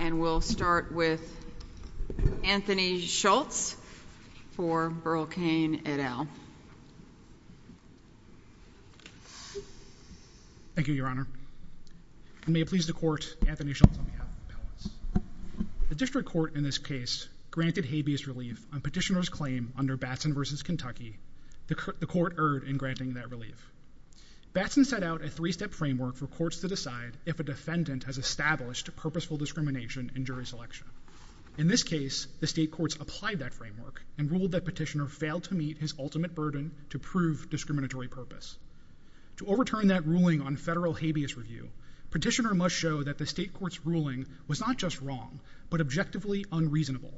And we'll start with Anthony Schultz for Burl Cain et al. Thank you, Your Honor. May it please the Court, Anthony Schultz on behalf of the Palace. The District Court in this case granted habeas relief on Petitioner's claim under Batson v. Kentucky. The Court erred in granting that relief. Batson set out a three-step framework for courts to decide if a defendant has established purposeful discrimination in jury selection. In this case, the state courts applied that framework and ruled that Petitioner failed to meet his ultimate burden to prove discriminatory purpose. To overturn that ruling on federal habeas review, Petitioner must show that the state court's ruling was not just wrong, but objectively unreasonable.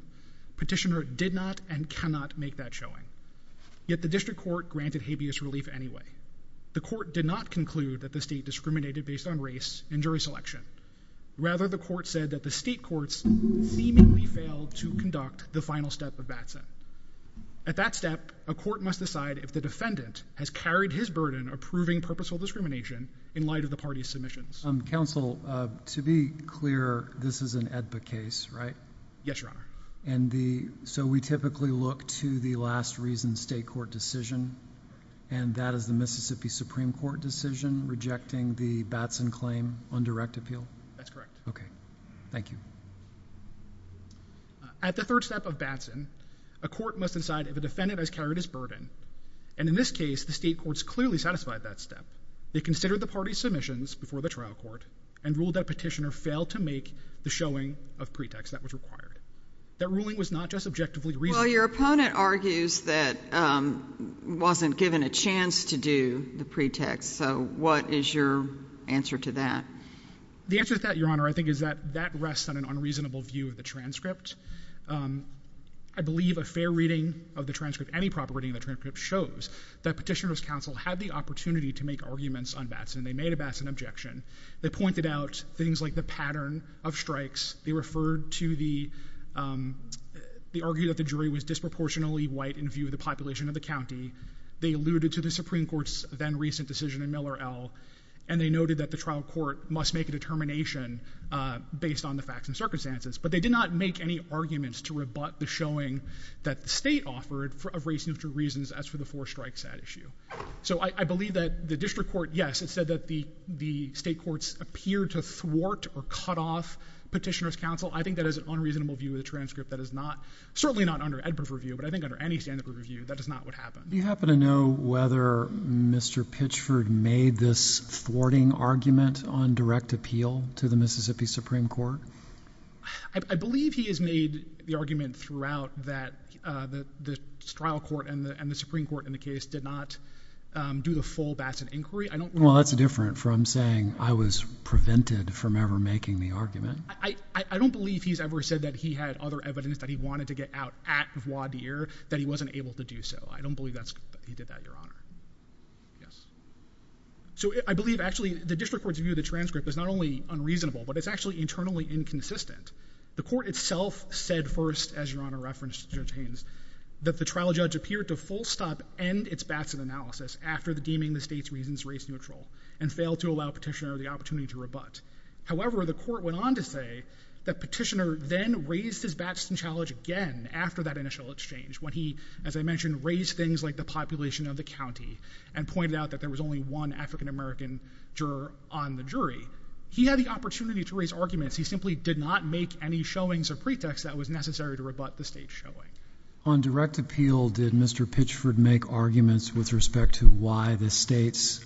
Petitioner did not and cannot make that showing. Yet the District Court granted habeas relief anyway. The Court did not conclude that the state discriminated based on race and jury selection. Rather, the Court said that the state courts seemingly failed to conduct the final step of Batson. At that step, a court must decide if the defendant has carried his burden of proving purposeful discrimination in light of the party's submissions. Counsel, to be clear, this is an AEDPA case, right? Yes, Your Honor. And so we typically look to the last reason state court decision, and that is the Mississippi Supreme Court decision rejecting the Batson claim on direct appeal? That's correct. Okay. Thank you. At the third step of Batson, a court must decide if a defendant has carried his burden. And in this case, the state courts clearly satisfied that step. They considered the party's submissions before the trial court and ruled that Petitioner failed to make the showing of pretext that was required. That ruling was not just objectively reasonable. Well, your opponent argues that wasn't given a chance to do the pretext. So what is your answer to that? The answer to that, Your Honor, I think is that that rests on an unreasonable view of the transcript. I believe a fair reading of the transcript, any proper reading of the transcript, shows that Petitioner's counsel had the opportunity to make arguments on Batson. They made a Batson objection. They pointed out things like the pattern of strikes. They referred to the argument that the jury was disproportionately white in view of the population of the county. They alluded to the Supreme Court's then-recent decision in Miller, L., and they noted that the trial court must make a determination based on the facts and circumstances. But they did not make any arguments to rebut the showing that the state offered of race and gender reasons as for the four strikes at issue. So I believe that the district court, yes, it said that the state courts appeared to thwart or cut off Petitioner's counsel. I think that is an unreasonable view of the transcript. That is not, certainly not under Edwards' review, but I think under any standard of review that is not what happened. Do you happen to know whether Mr. Pitchford made this thwarting argument on direct appeal to the Mississippi Supreme Court? I believe he has made the argument throughout that the trial court and the Supreme Court in the case did not do the full Batson inquiry. Well, that's different from saying I was prevented from ever making the argument. I don't believe he's ever said that he had other evidence that he wanted to get out at voir dire that he wasn't able to do so. I don't believe that he did that, Your Honor. Yes. So I believe actually the district court's view of the transcript is not only unreasonable, but it's actually internally inconsistent. The court itself said first, as Your Honor referenced Judge Haynes, that the trial judge appeared to full stop and its Batson analysis after deeming the state's reasons race neutral and failed to allow Petitioner the opportunity to rebut. However, the court went on to say that Petitioner then raised his Batson challenge again after that initial exchange when he, as I mentioned, raised things like the population of the county and pointed out that there was only one African American juror on the jury. He had the opportunity to raise arguments. He simply did not make any showings of pretext that was necessary to rebut the state's showing. On direct appeal, did Mr. Pitchford make arguments with respect to why the state's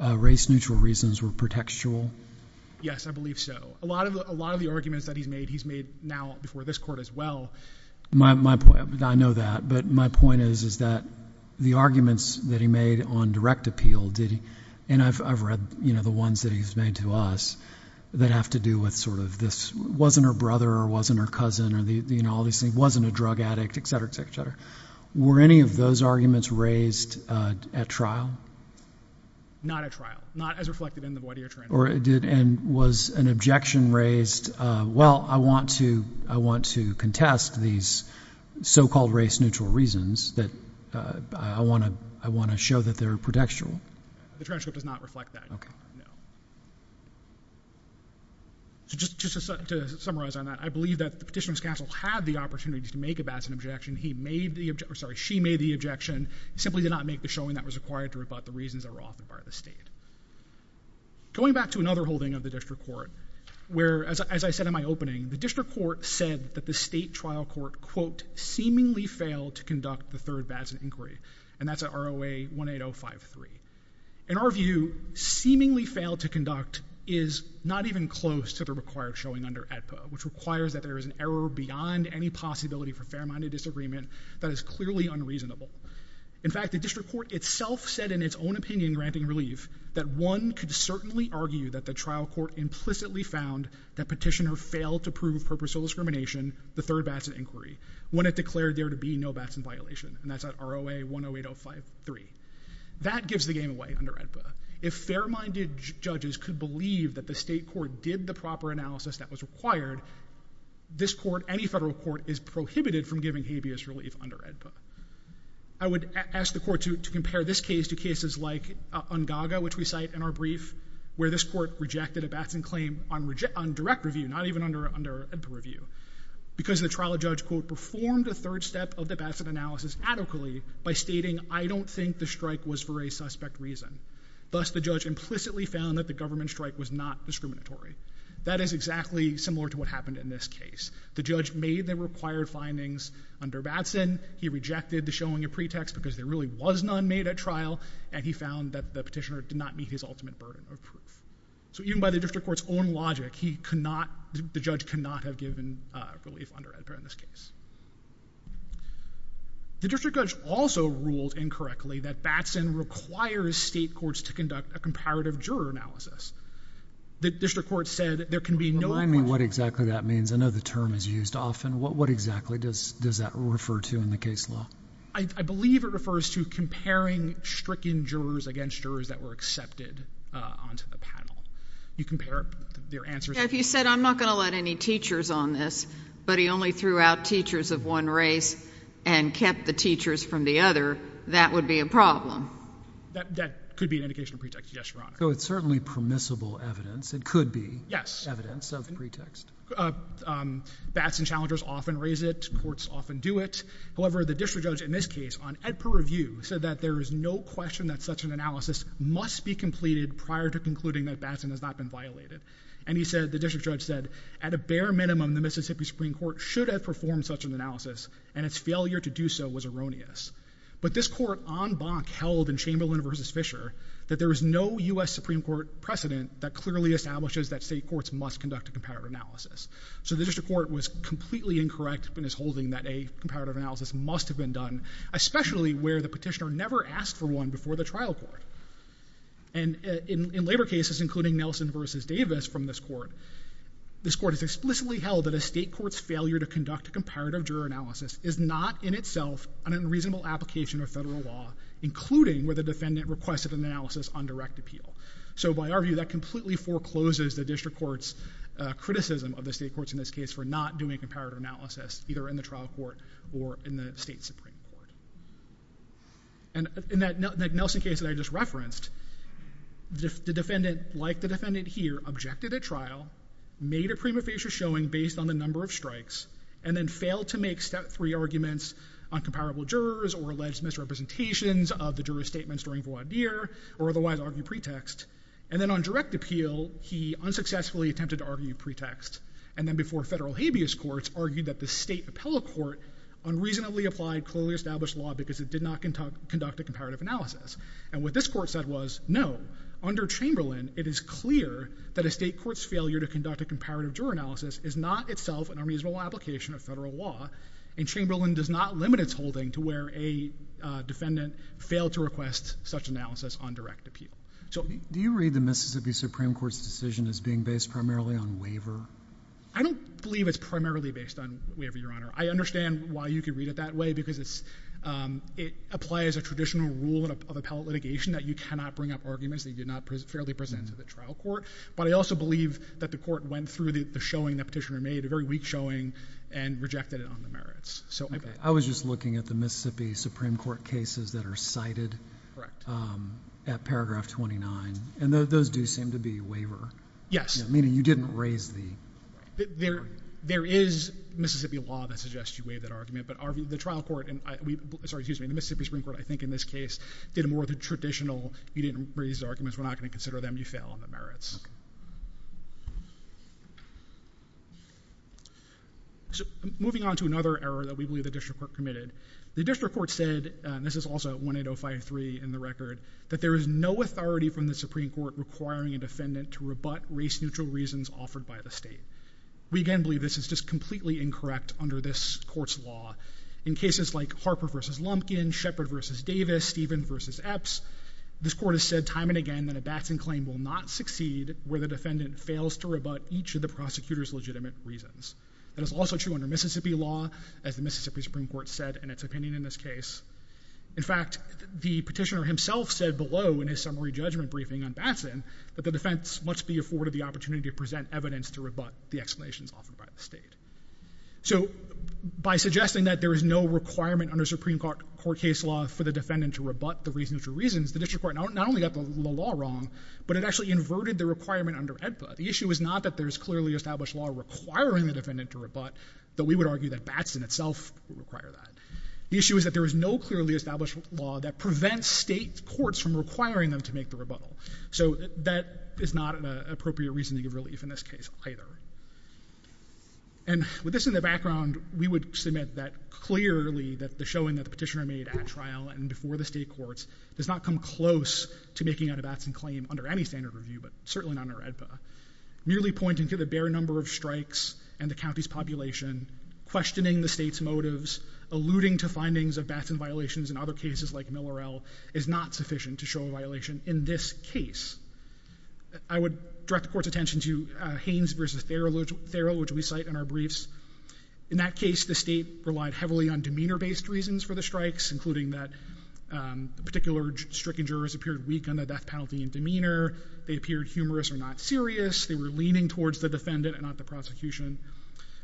race neutral reasons were pretextual? Yes, I believe so. A lot of the arguments that he's made, he's made now before this court as well. I know that, but my point is that the arguments that he made on direct appeal, and I've read the ones that he's made to us that have to do with sort of this wasn't her brother or wasn't her cousin or all these things, wasn't a drug addict, et cetera, et cetera, et cetera. Were any of those arguments raised at trial? Not at trial, not as reflected in the voir dire trend. And was an objection raised, well, I want to contest these so-called race neutral reasons that I want to show that they're pretextual. The transcript does not reflect that. No. So just to summarize on that, I believe that the petitioner's counsel had the opportunity to make about an objection. He made the objection, or sorry, she made the objection, simply did not make the showing that was required to rebut the reasons that were off the part of the state. Going back to another holding of the district court, where, as I said in my opening, the district court said that the state trial court, quote, seemingly failed to conduct the third VATS inquiry. And that's at ROA 18053. In our view, seemingly failed to conduct is not even close to the required showing under AEDPA, which requires that there is an error beyond any possibility for fair-minded disagreement that is clearly unreasonable. In fact, the district court itself said in its own opinion, granting relief, that one could certainly argue that the trial court implicitly found that petitioner failed to prove purposeful discrimination, the third VATS inquiry, when it declared there to be no VATS in violation. And that's at ROA 18053. That gives the game away under AEDPA. If fair-minded judges could believe that the state court did the proper analysis that was required, this court, any federal court, is prohibited from giving habeas relief under AEDPA. I would ask the court to compare this case to cases like Ungaga, which we cite in our brief, where this court rejected a VATS claim on direct review, not even under AEDPA review, because the trial judge, quote, performed a third step of the VATS analysis adequately by stating, I don't think the strike was for a suspect reason. Thus, the judge implicitly found that the government strike was not discriminatory. That is exactly similar to what happened in this case. The judge made the required findings under VATS, he rejected the showing of pretext because there really was none made at trial, and he found that the petitioner did not meet his ultimate burden of proof. So even by the district court's own logic, the judge could not have given relief under AEDPA in this case. The district judge also ruled incorrectly that VATS in requires state courts to conduct a comparative juror analysis. The district court said there can be no Remind me what exactly that means. I know the term is used often. What exactly does that refer to in the case law? I believe it refers to comparing stricken jurors against jurors that were accepted onto the panel. You compare their answers. If you said I'm not going to let any teachers on this, but he only threw out teachers of one race and kept the teachers from the other, that would be a problem. That could be an indication of pretext, yes, Your Honor. So it's certainly permissible evidence. It could be evidence of pretext. VATS and challengers often raise it. Courts often do it. However, the district judge in this case on AEDPA review said that there is no question that such an analysis must be completed prior to concluding that VATS has not been violated. And he said, the district judge said, at a bare minimum, the Mississippi Supreme Court should have performed such an analysis and its failure to do so was erroneous. But this court on Bonk held in Chamberlain v. Fisher that there was no U.S. Supreme Court precedent that clearly establishes that state courts must conduct a comparative analysis. So the district court was completely incorrect in its holding that a comparative analysis must have been done, especially where the petitioner never asked for one before the trial court. And in labor cases, including Nelson v. Davis from this court, this court has explicitly held that a state court's failure to conduct a comparative juror analysis is not in itself an unreasonable application of federal law, including where the defendant requested an analysis on direct appeal. So by our view, that completely forecloses the district court's criticism of the state courts in this case for not doing a comparative analysis, either in the trial court or in the state Supreme Court. And in that Nelson case that I just referenced, the defendant, like the defendant here, objected at trial, made a prima facie showing based on the number of strikes, and then failed to make Step 3 arguments on comparable jurors or alleged misrepresentations of the juror's statements during voir dire or otherwise argued pretext. And then on direct appeal, he unsuccessfully attempted to argue pretext. And then before federal habeas courts, argued that the state appellate court unreasonably applied clearly established law because it did not conduct a comparative analysis. And what this court said was, no, under Chamberlain, it is clear that a state court's failure to conduct a comparative juror analysis is not itself an unreasonable application of federal law, and Chamberlain does not limit its holding to where a defendant failed to request such analysis on direct appeal. Do you read the Mississippi Supreme Court's decision as being based primarily on waiver? I don't believe it's primarily based on waiver, Your Honor. I understand why you could read it that way because it applies a traditional rule of appellate litigation that you cannot bring up arguments that you did not fairly present to the trial court, but I also believe that the court went through the showing that Petitioner made, a very weak showing, and rejected it on the merits. I was just looking at the Mississippi Supreme Court cases that are cited at paragraph 29, and those do seem to be waiver. Yes. Meaning you didn't raise the argument. There is Mississippi law that suggests you waive that argument, but the Mississippi Supreme Court, I think, in this case, did more of the traditional, you didn't raise arguments, we're not going to consider them, you fail on the merits. Moving on to another error that we believe the district court committed. The district court said, and this is also 18053 in the record, that there is no authority from the Supreme Court requiring a defendant to rebut race-neutral reasons offered by the state. We, again, believe this is just completely incorrect under this court's law. In cases like Harper v. Lumpkin, Shepard v. Davis, Stephen v. Epps, this court has said time and again that a Batson claim will not succeed where the defendant fails to rebut each of the prosecutor's legitimate reasons. That is also true under Mississippi law, as the Mississippi Supreme Court said in its opinion in this case. In fact, the petitioner himself said below in his summary judgment briefing on Batson that the defense must be afforded the opportunity to present evidence to rebut the explanations offered by the state. So by suggesting that there is no requirement under Supreme Court case law for the defendant to rebut the race-neutral reasons, the district court not only got the law wrong, but it actually inverted the requirement under AEDPA. The issue is not that there is clearly established law requiring the defendant to rebut, though we would argue that Batson itself would require that. The issue is that there is no clearly established law that prevents state courts from requiring them to make the rebuttal. So that is not an appropriate reasoning of relief in this case either. And with this in the background, we would submit that clearly that the showing that the petitioner made at trial and before the state courts does not come close to making a Batson claim under any standard review, but certainly not under AEDPA. Merely pointing to the bare number of strikes and the county's population, questioning the state's motives, alluding to findings of Batson violations in other cases like Millerell is not sufficient to show a violation in this case. I would direct the court's attention to Haynes v. Theroux, which we cite in our briefs. In that case, the state relied heavily on demeanor-based reasons for the strikes, including that particular stricken jurors appeared weak on the death penalty and demeanor, they appeared humorous or not serious, they were leaning towards the defendant and not the prosecution.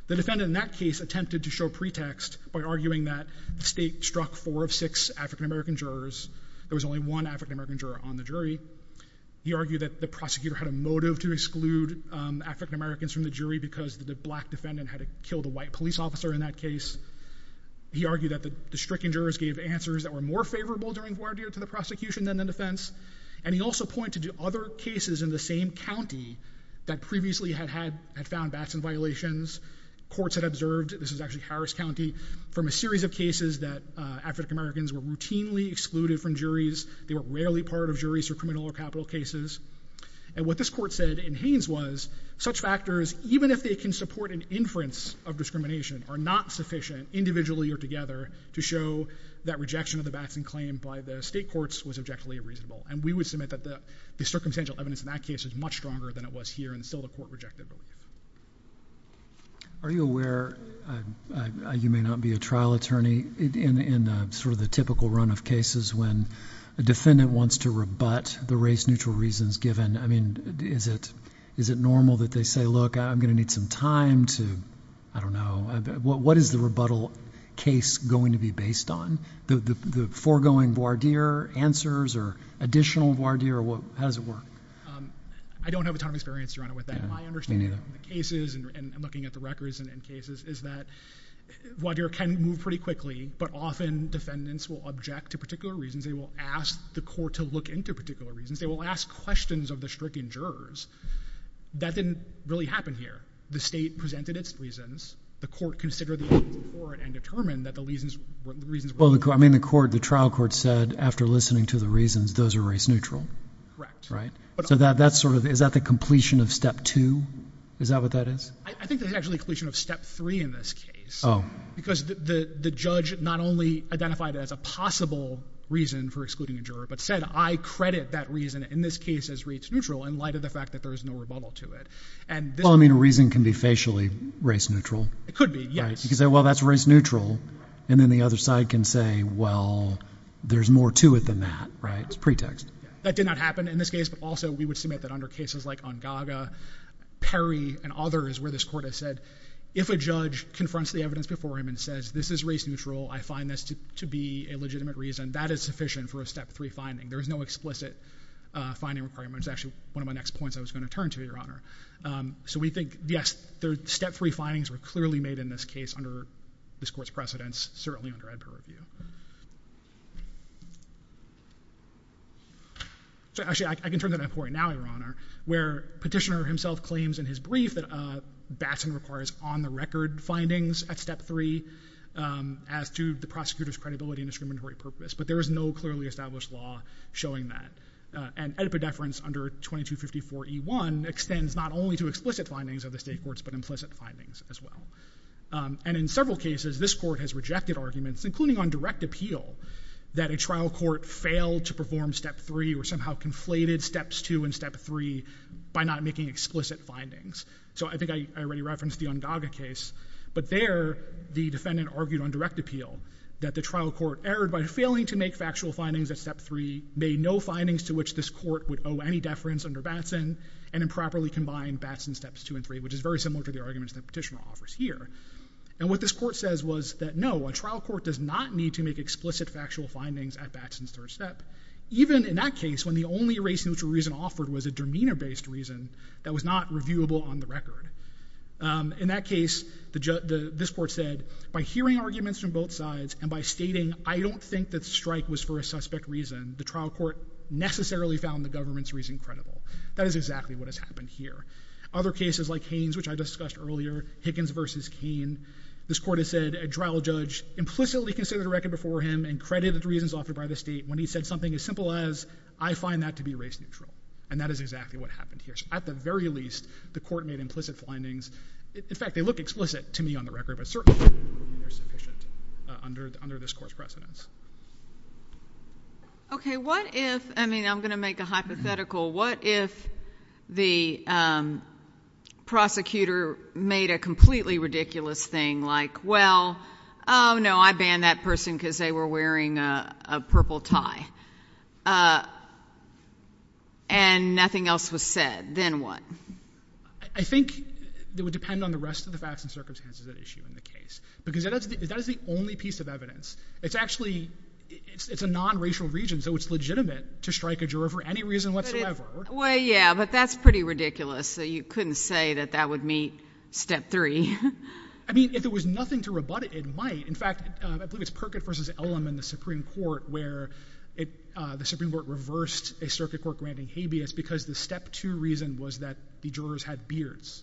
The defendant in that case attempted to show pretext by arguing that the state struck four of six African-American jurors. There was only one African-American juror on the jury. He argued that the prosecutor had a motive to exclude African-Americans from the jury because the black defendant had killed a white police officer in that case. He argued that the stricken jurors gave answers that were more favorable during voir dire to the prosecution than the defense. And he also pointed to other cases in the same county that previously had found Batson violations. Courts had observed, this is actually Harris County, from a series of cases that African-Americans were routinely excluded from juries. They were rarely part of juries for criminal or capital cases. And what this court said in Haynes was, such factors, even if they can support an inference of discrimination, are not sufficient, individually or together, to show that rejection of the Batson claim by the state courts was objectively reasonable. And we would submit that the circumstantial evidence in that case was much stronger than it was here, and still the court rejected it. Are you aware, you may not be a trial attorney, in sort of the typical run of cases when a defendant wants to rebut the race-neutral reasons given? I mean, is it normal that they say, look, I'm going to need some time to... I don't know. What is the rebuttal case going to be based on? The foregoing voir dire answers or additional voir dire? How does it work? I don't have a ton of experience, Your Honor, with that. My understanding of the cases and looking at the records and cases is that voir dire can move pretty quickly, but often defendants will object to particular reasons. They will ask the court to look into particular reasons. They will ask questions of the stricken jurors. That didn't really happen here. The state presented its reasons. The court considered the evidence before it and determined that the reasons were... Well, I mean, the trial court said, after listening to the reasons, those are race-neutral. Correct. Is that the completion of Step 2? Is that what that is? I think that's actually a completion of Step 3 in this case. Oh. Because the judge not only identified it as a possible reason for excluding a juror, but said, I credit that reason in this case as race-neutral in light of the fact that there is no rebuttal to it. Well, I mean, a reason can be facially race-neutral. It could be, yes. You could say, well, that's race-neutral, and then the other side can say, well, there's more to it than that, right? It's a pretext. That did not happen in this case, but also we would submit that under cases like Ungaga, Perry, and others where this court has said, if a judge confronts the evidence before him and says, this is race-neutral, I find this to be a legitimate reason, that is sufficient for a Step 3 finding. There is no explicit finding requirement. It's actually one of my next points I was going to turn to, Your Honor. So we think, yes, the Step 3 findings were clearly made in this case under this court's precedence, certainly under Edper review. Actually, I can turn to that point now, Your Honor, where Petitioner himself claims in his brief that Batson requires on-the-record findings at Step 3 as to the prosecutor's credibility and discriminatory purpose, but there is no clearly established law showing that. And Edper deference under 2254E1 extends not only to explicit findings of the state courts, but implicit findings as well. And in several cases, this court has rejected arguments, including on direct appeal, that a trial court failed to perform Step 3 or somehow conflated Steps 2 and Step 3 by not making explicit findings. So I think I already referenced the Ungaga case, but there the defendant argued on direct appeal that the trial court erred by failing to make factual findings at Step 3, made no findings to which this court would owe any deference under Batson, and improperly combined Batson's Steps 2 and 3, which is very similar to the arguments that Petitioner offers here. And what this court says was that, no, a trial court does not need to make explicit factual findings at Batson's third step, even in that case when the only race-neutral reason offered was a demeanor-based reason that was not reviewable on the record. In that case, this court said, by hearing arguments from both sides and by stating, I don't think that the strike was for a suspect reason, the trial court necessarily found the government's reason credible. That is exactly what has happened here. Other cases like Haines, which I discussed earlier, Hickens v. Cain, this court has said a trial judge implicitly considered a record before him and credited the reasons offered by the state when he said something as simple as I find that to be race-neutral. And that is exactly what happened here. So at the very least, the court made implicit findings. In fact, they look explicit to me on the record, but certainly they're sufficient under this court's precedence. Okay, what if, I mean, I'm going to make a hypothetical, what if the prosecutor made a completely ridiculous thing like, well, oh no, I banned that person because they were wearing a purple tie. And nothing else was said. Then what? I think it would depend on the rest of the facts and circumstances at issue in the case. Because that is the only piece of evidence. It's actually, it's a non-racial region, so it's legitimate to strike a juror for any reason whatsoever. Well, yeah, but that's pretty ridiculous. So you couldn't say that that would meet Step 3. I mean, if there was nothing to rebut it, it might. In fact, I believe it's Perkett v. Ellum in the Supreme Court where the Supreme Court reversed a circuit court granting habeas because the Step 2 reason was that the jurors had beards.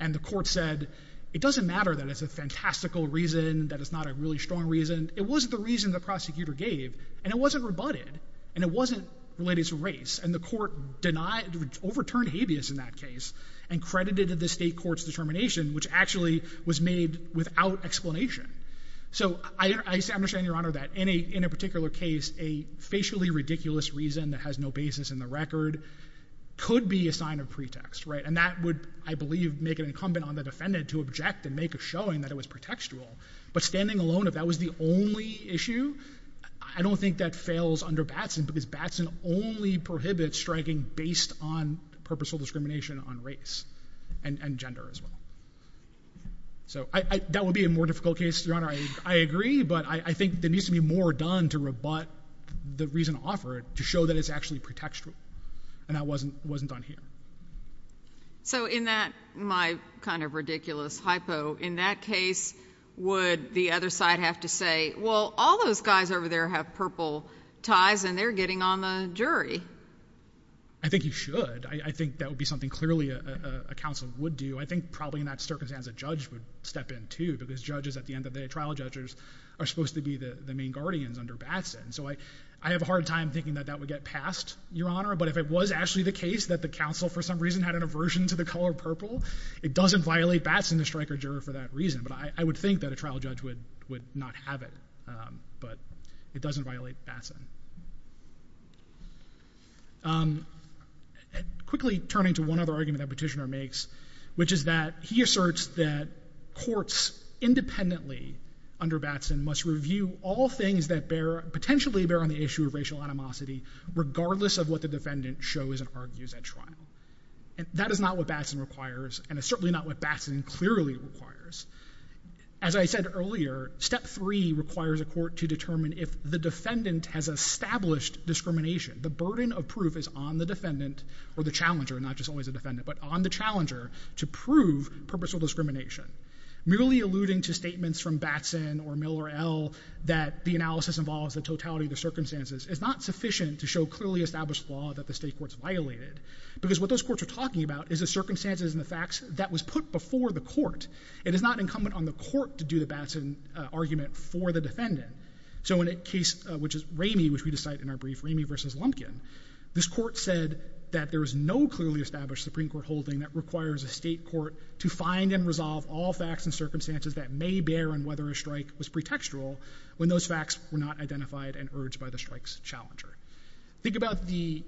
And the court said, it doesn't matter that it's a fantastical reason, that it's not a really strong reason. It was the reason the prosecutor gave and it wasn't rebutted, and it wasn't related to race. And the court overturned habeas in that case and credited the state court's determination, which actually was made without explanation. So I understand, Your Honor, that in a particular case, a facially ridiculous reason that has no basis in the record could be a sign of pretext. And that would, I believe, make it incumbent on the defendant to reject and make a showing that it was pretextual. But standing alone, if that was the only issue, I don't think that fails under Batson because Batson only prohibits striking based on purposeful discrimination on race and gender as well. So, that would be a more difficult case, Your Honor. I agree, but I think there needs to be more done to rebut the reason offered to show that it's actually pretextual. And that wasn't done here. So in that my kind of ridiculous hypo, in that case, would the other side have to say, well, all those guys over there have purple ties and they're getting on the jury? I think you should. I think that would be something clearly a counsel would do. I think probably in that circumstance, a judge would step in too because judges, at the end of the day, trial judges are supposed to be the main guardians under Batson. So I have a hard time thinking that that would get passed, Your Honor. But if it was actually the case that the counsel, for some reason, had an aversion to the color purple, it doesn't violate Batson to strike a juror for that reason. But I would think that a trial judge would not have it. But it doesn't violate Batson. Quickly turning to one other argument that Petitioner makes, which is that he asserts that courts independently under Batson must review all things that potentially bear on the issue of racial animosity regardless of what the defendant shows and argues at trial. That is not what Batson requires, and it's certainly not what Batson clearly requires. As I said earlier, step three requires a court to determine if the defendant has established discrimination. The burden of proof is on the defendant, or the challenger, not just always the defendant, but on the challenger, to prove purposeful discrimination. Merely alluding to statements from Batson or Miller, that the analysis involves the totality of the circumstances, is not sufficient to show clearly established law that the state courts violated. Because what those courts are talking about is the circumstances and the facts that was put before the court. It is not incumbent on the court to do the Batson argument for the defendant. So in a case, which is Ramey, which we cite in our brief, Ramey v. Lumpkin, this court said that there is no clearly established Supreme Court holding that requires a state court to find and resolve all facts and circumstances that may bear on whether a strike was pretextual when those facts were not identified and urged by the strike's challenger. Think about the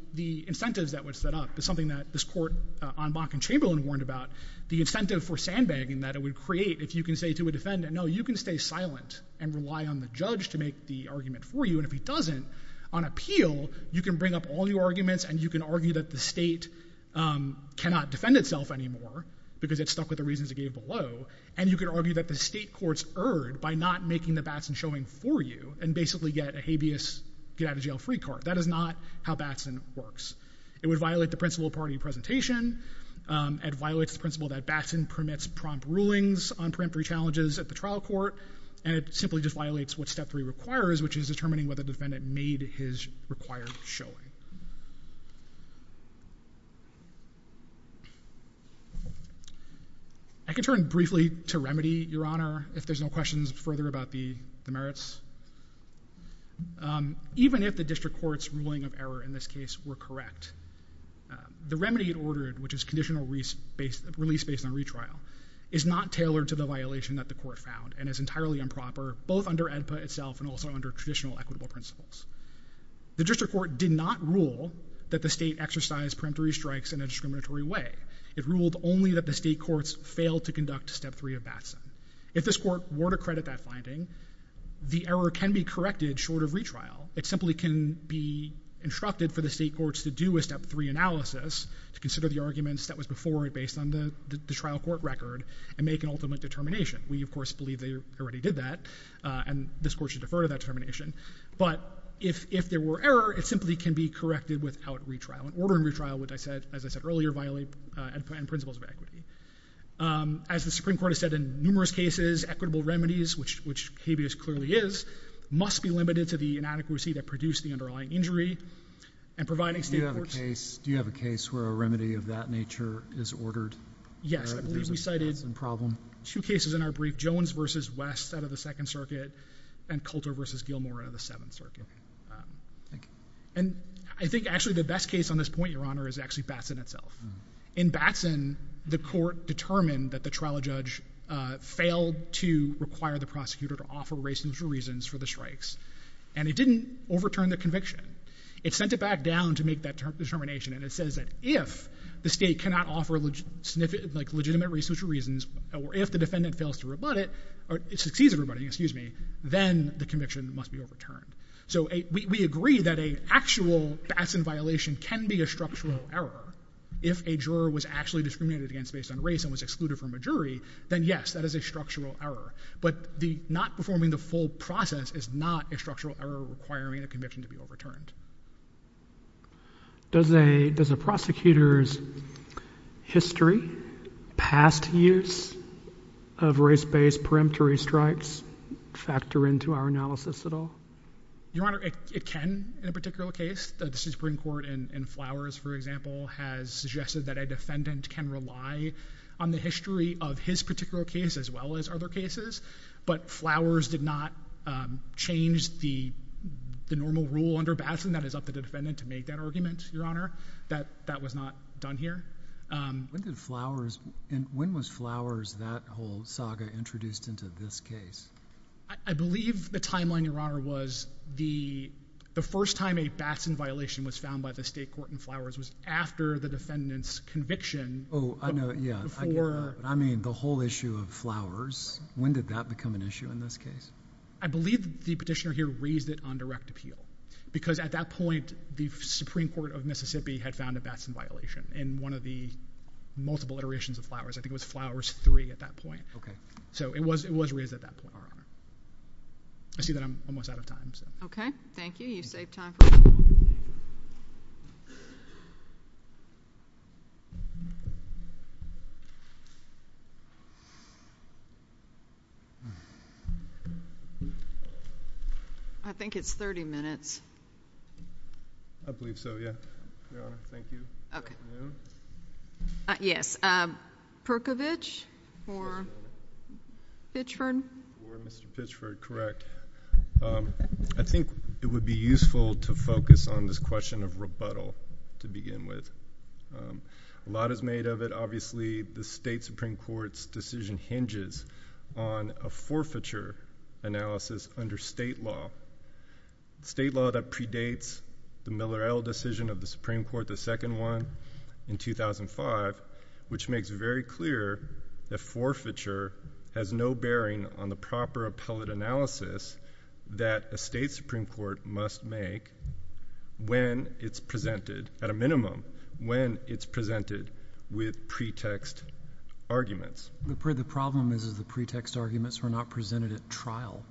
incentives that was set up. It's something that this court on Bach and Chamberlain warned about. The incentive for sandbagging that it would create if you can say to a defendant, no, you can stay silent and rely on the judge to make the argument for you, and if he doesn't, on appeal, you can bring up all your arguments and you can argue that the state cannot defend itself anymore, because it's stuck with the reasons it gave below, and you can argue that the state courts erred by not making the Batson showing for you and basically get a habeas get-out-of-jail-free card. That is not how Batson works. It would violate the principle of party presentation, it violates the principle that Batson permits prompt rulings on preemptory challenges at the trial court, and it simply just violates what step three requires, which is determining whether the defendant made his required showing. I can turn briefly to Remedy, Your Honor, if there's no questions further about the merits. Even if the district court's ruling of error in this case were correct, the remedy it ordered, which is conditional release based on retrial, is not tailored to the violation that the court found and is entirely improper, both under AEDPA itself and also under traditional equitable principles. The district court did not rule that the state exercised preemptory strikes in a discriminatory way. It ruled only that the state courts failed to conduct step three of Batson. If this court were to credit that finding, the error can be corrected short of retrial. It simply can be instructed for the state courts to do a step three analysis to consider the arguments that was before it based on the trial court record and make an ultimate determination. We, of course, believe they already did that, and this court should defer to that determination. If there were error, it simply can be corrected without retrial. Ordering retrial would, as I said earlier, violate AEDPA and principles of equity. As the Supreme Court has said in numerous cases, equitable remedies, which habeas clearly is, must be limited to the inadequacy that produced the underlying injury. Do you have a case where a remedy of that nature is ordered? Yes. We cited two cases in our brief, Jones v. West out of the Second Circuit and Coulter v. Gilmore out of the Seventh Circuit. I think, actually, the best case on this point, Your Honor, is actually Batson itself. In Batson, the court determined that the trial judge failed to require the prosecutor to offer reasonable reasons for the strikes, and it didn't overturn the conviction. It sent it back down to make that determination, and it says that if the state cannot offer legitimate reasonable reasons, or if the defendant fails to rebut it, or succeeds in rebutting it, then the conviction must be overturned. We agree that an actual Batson violation can be a structural error if a juror was actually discriminated against based on race and was excluded from a jury, then yes, that is a structural error. But not performing the full process is not a structural error requiring a conviction to be overturned. Does a prosecutor's history, past years of race-based peremptory strikes factor into our analysis at all? Your Honor, it can, in a particular case. The Supreme Court in Flowers, for example, has suggested that a defendant can rely on the history of his particular case as well as other cases, but Flowers did not change the normal rule under Batson that is up to the defendant to make that argument, Your Honor. That was not done here. When did Flowers, and when was Flowers, that whole saga introduced into this case? I believe the timeline, Your Honor, was the first time a Batson violation was found by the state court in Flowers was after the defendant's conviction. Oh, I know, yeah. I mean, the whole issue of Flowers, when did that become an issue in this case? I believe the petitioner here raised it on direct appeal because at that point the Supreme Court of Mississippi had found a Batson violation in one of the multiple iterations of Flowers. I think it was Flowers 3 at that point. So it was raised at that point, Your Honor. I see that I'm almost out of time. Okay. Thank you. You saved time for me. I think it's 30 minutes. I believe so, yeah. Your Honor, thank you. Okay. Yes. Perkovich for Pitchford. Mr. Pitchford, correct. I think it would be useful to focus on this question of rebuttal to begin with. A lot is made of it. Obviously, the state Supreme Court's decision hinges on a forfeiture analysis under state law. State law that predates the Miller-Ell decision of the Supreme Court, the second one, in 2005, which makes very clear that forfeiture has no bearing on the proper appellate analysis that a state Supreme Court must make when it's presented, at a minimum, when it's presented with pretext arguments. The problem is the pretext arguments were not presented at trial.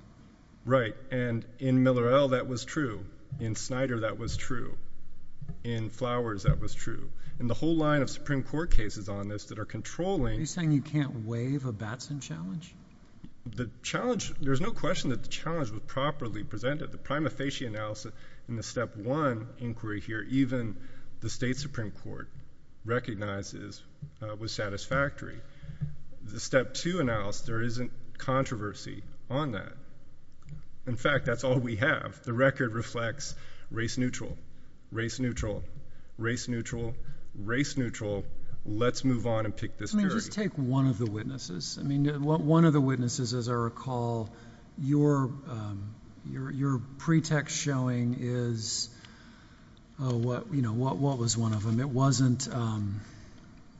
Right. And in Miller-Ell that was true. In Snyder that was true. In Flowers that was true. And the whole line of Supreme Court cases on this that are controlling Are you saying you can't waive a Batson challenge? The challenge, there's no question that the challenge was properly presented. The prima facie analysis in the step one inquiry here, even the state Supreme Court recognizes was satisfactory. The step two analysis, there isn't controversy on that. In fact, that's all we have. The record reflects race neutral, race neutral, race neutral. Let's move on and pick this period. Just take one of the witnesses. One of the witnesses, as I recall, your pretext showing is what was one of them. It wasn't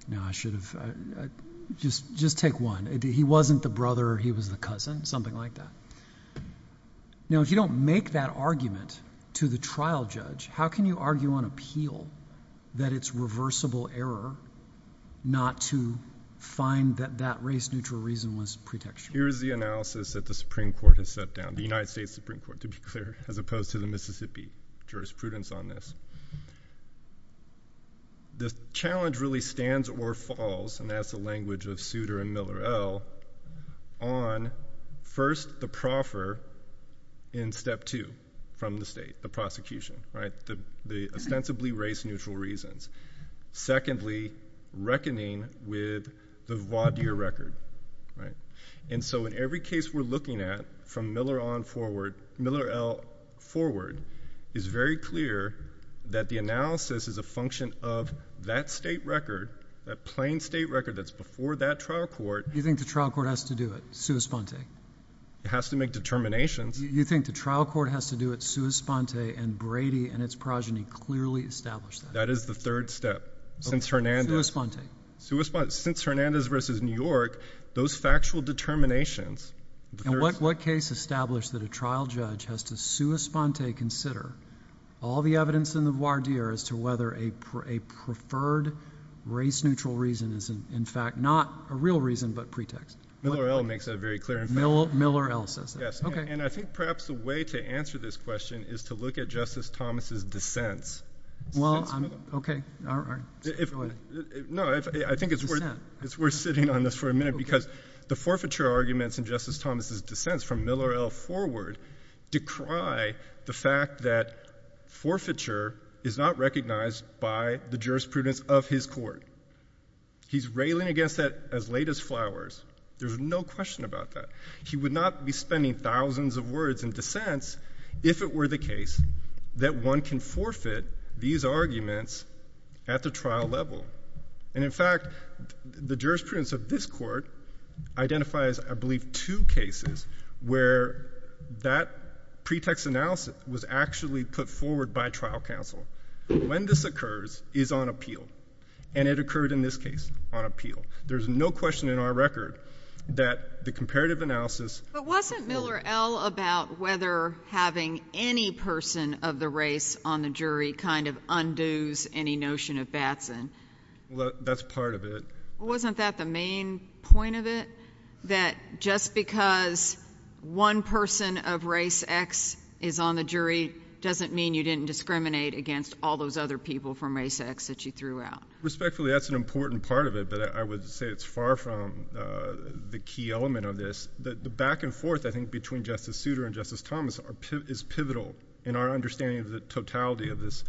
no, I should have just take one. He wasn't the brother, he was the cousin, something like that. Now, if you don't make that argument to the trial judge, how can you argue on appeal that it's reversible error not to find that that race neutral reason was pretextual. Here's the analysis that the Supreme Court has set down, the United States Supreme Court, to be clear, as opposed to the Mississippi jurisprudence on this. The challenge really stands or falls, and that's the language of Souter and Miller-El, on first, the proffer in step two from the state, the prosecution. The ostensibly race neutral reasons. Secondly, reckoning with the voir dire record. In every case we're looking at from Miller-El forward is very clear that the analysis is a function of that state record, that plain state record that's before that trial court. You think the trial court has to do it sua sponte? It has to make determinations. You think the trial court has to do it sua sponte, and Brady and its progeny clearly established that. That is the third step. Since Hernandez versus New York, those factual determinations. What case established that a trial judge has to sua sponte consider all the evidence in the voir dire as to whether a preferred race neutral reason is in fact not a real reason but pretext? Miller-El makes that very clear. Miller-El says that. I think perhaps the way to answer this question is to look at Justice Thomas' dissents. I think it's worth sitting on this for a minute because the forfeiture arguments in Justice Thomas' dissents from Miller-El forward decry the fact that forfeiture is not recognized by the jurisprudence of his court. He's railing against that as late as flowers. There's no question about that. He would not be spending thousands of words in dissents if it were the case that one can forfeit these arguments at the trial level. In fact, the jurisprudence of this court identifies, I believe, two cases where that pretext analysis was actually put forward by trial counsel. When this occurs is on appeal, and it occurred in this case on appeal. There's no question in our record that the comparative analysis... But wasn't Miller-El about whether having any person of the race on the jury kind of undoes any notion of Batson? That's part of it. Wasn't that the main point of it? That just because one person of race X is on the jury doesn't mean you didn't discriminate against all those other people from race X that you threw out? Respectfully, that's an important part of it, but I would say it's far from the key element of this. The back and forth, I think, between Justice Souter and Justice Thomas is pivotal in our understanding of the totality of this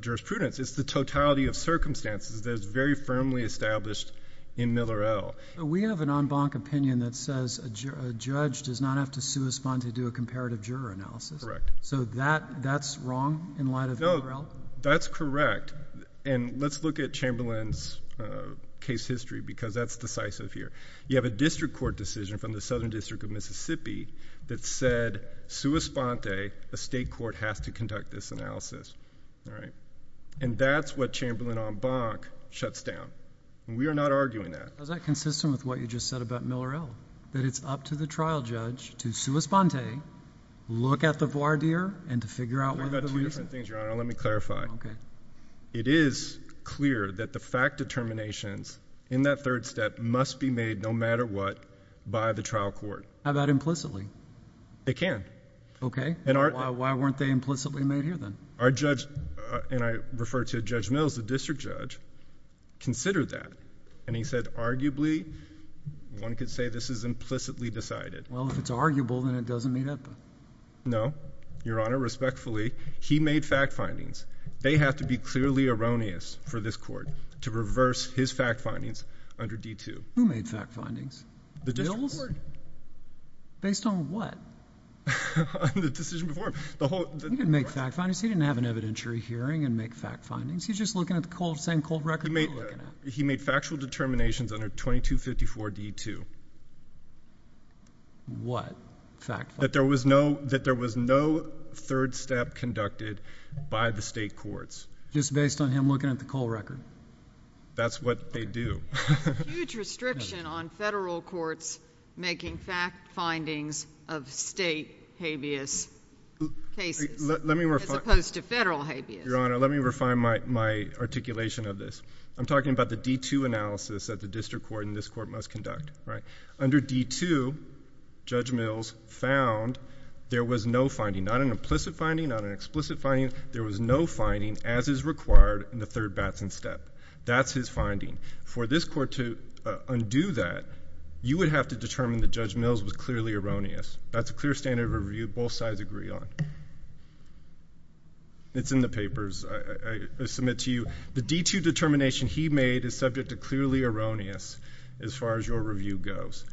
jurisprudence. It's the totality of circumstances that is very firmly established in Miller-El. We have an en banc opinion that says a judge does not have to correspond to do a comparative juror analysis. Correct. So that's wrong in light of Miller-El? That's correct. Let's look at Chamberlain's case history because that's decisive here. You have a district court decision from the Southern District of Mississippi that said, sua sponte, a state court has to conduct this That's what Chamberlain en banc shuts down. We are not arguing that. Is that consistent with what you just said about Miller-El? That it's up to the trial judge to sua sponte, look at the voir dire, and to figure out whether to leave. Let me clarify. It is clear that the fact determinations in that third step must be made no matter what by the trial court. How about implicitly? They can. Okay. Why weren't they implicitly made here then? Our judge, and I refer to Judge Mills, the district judge, considered that, and he said arguably, one could say this is implicitly decided. Well, if it's arguable, then it doesn't meet up. No, Your Honor. Respectfully, he made fact findings. They have to be clearly erroneous for this court to reverse his fact findings under D-2. Who made fact findings? The district court? Mills? Based on what? On the decision before him. He didn't make fact findings. He didn't have an evidentiary hearing and make fact findings. He's just looking at the same cold record that we're looking at. He made factual determinations under 2254 D-2. What fact findings? That there was no third step conducted by the state courts. Just based on him looking at the cold record. That's what they do. Huge restriction on federal courts making fact findings of state habeas cases as opposed to federal habeas. Your Honor, let me refine my articulation of this. I'm talking about the D-2 analysis that the district court and this court must conduct. Under D-2, Judge Mills found there was no finding. Not an implicit finding, not an explicit finding. There was no finding as is required in the third Batson step. That's his finding. For this court to undo that, you would have to determine that Judge Mills was clearly erroneous. That's a clear standard of review both sides agree on. It's in the papers. I submit to you the D-2 determination he made is subject to clearly erroneous as far as your review goes.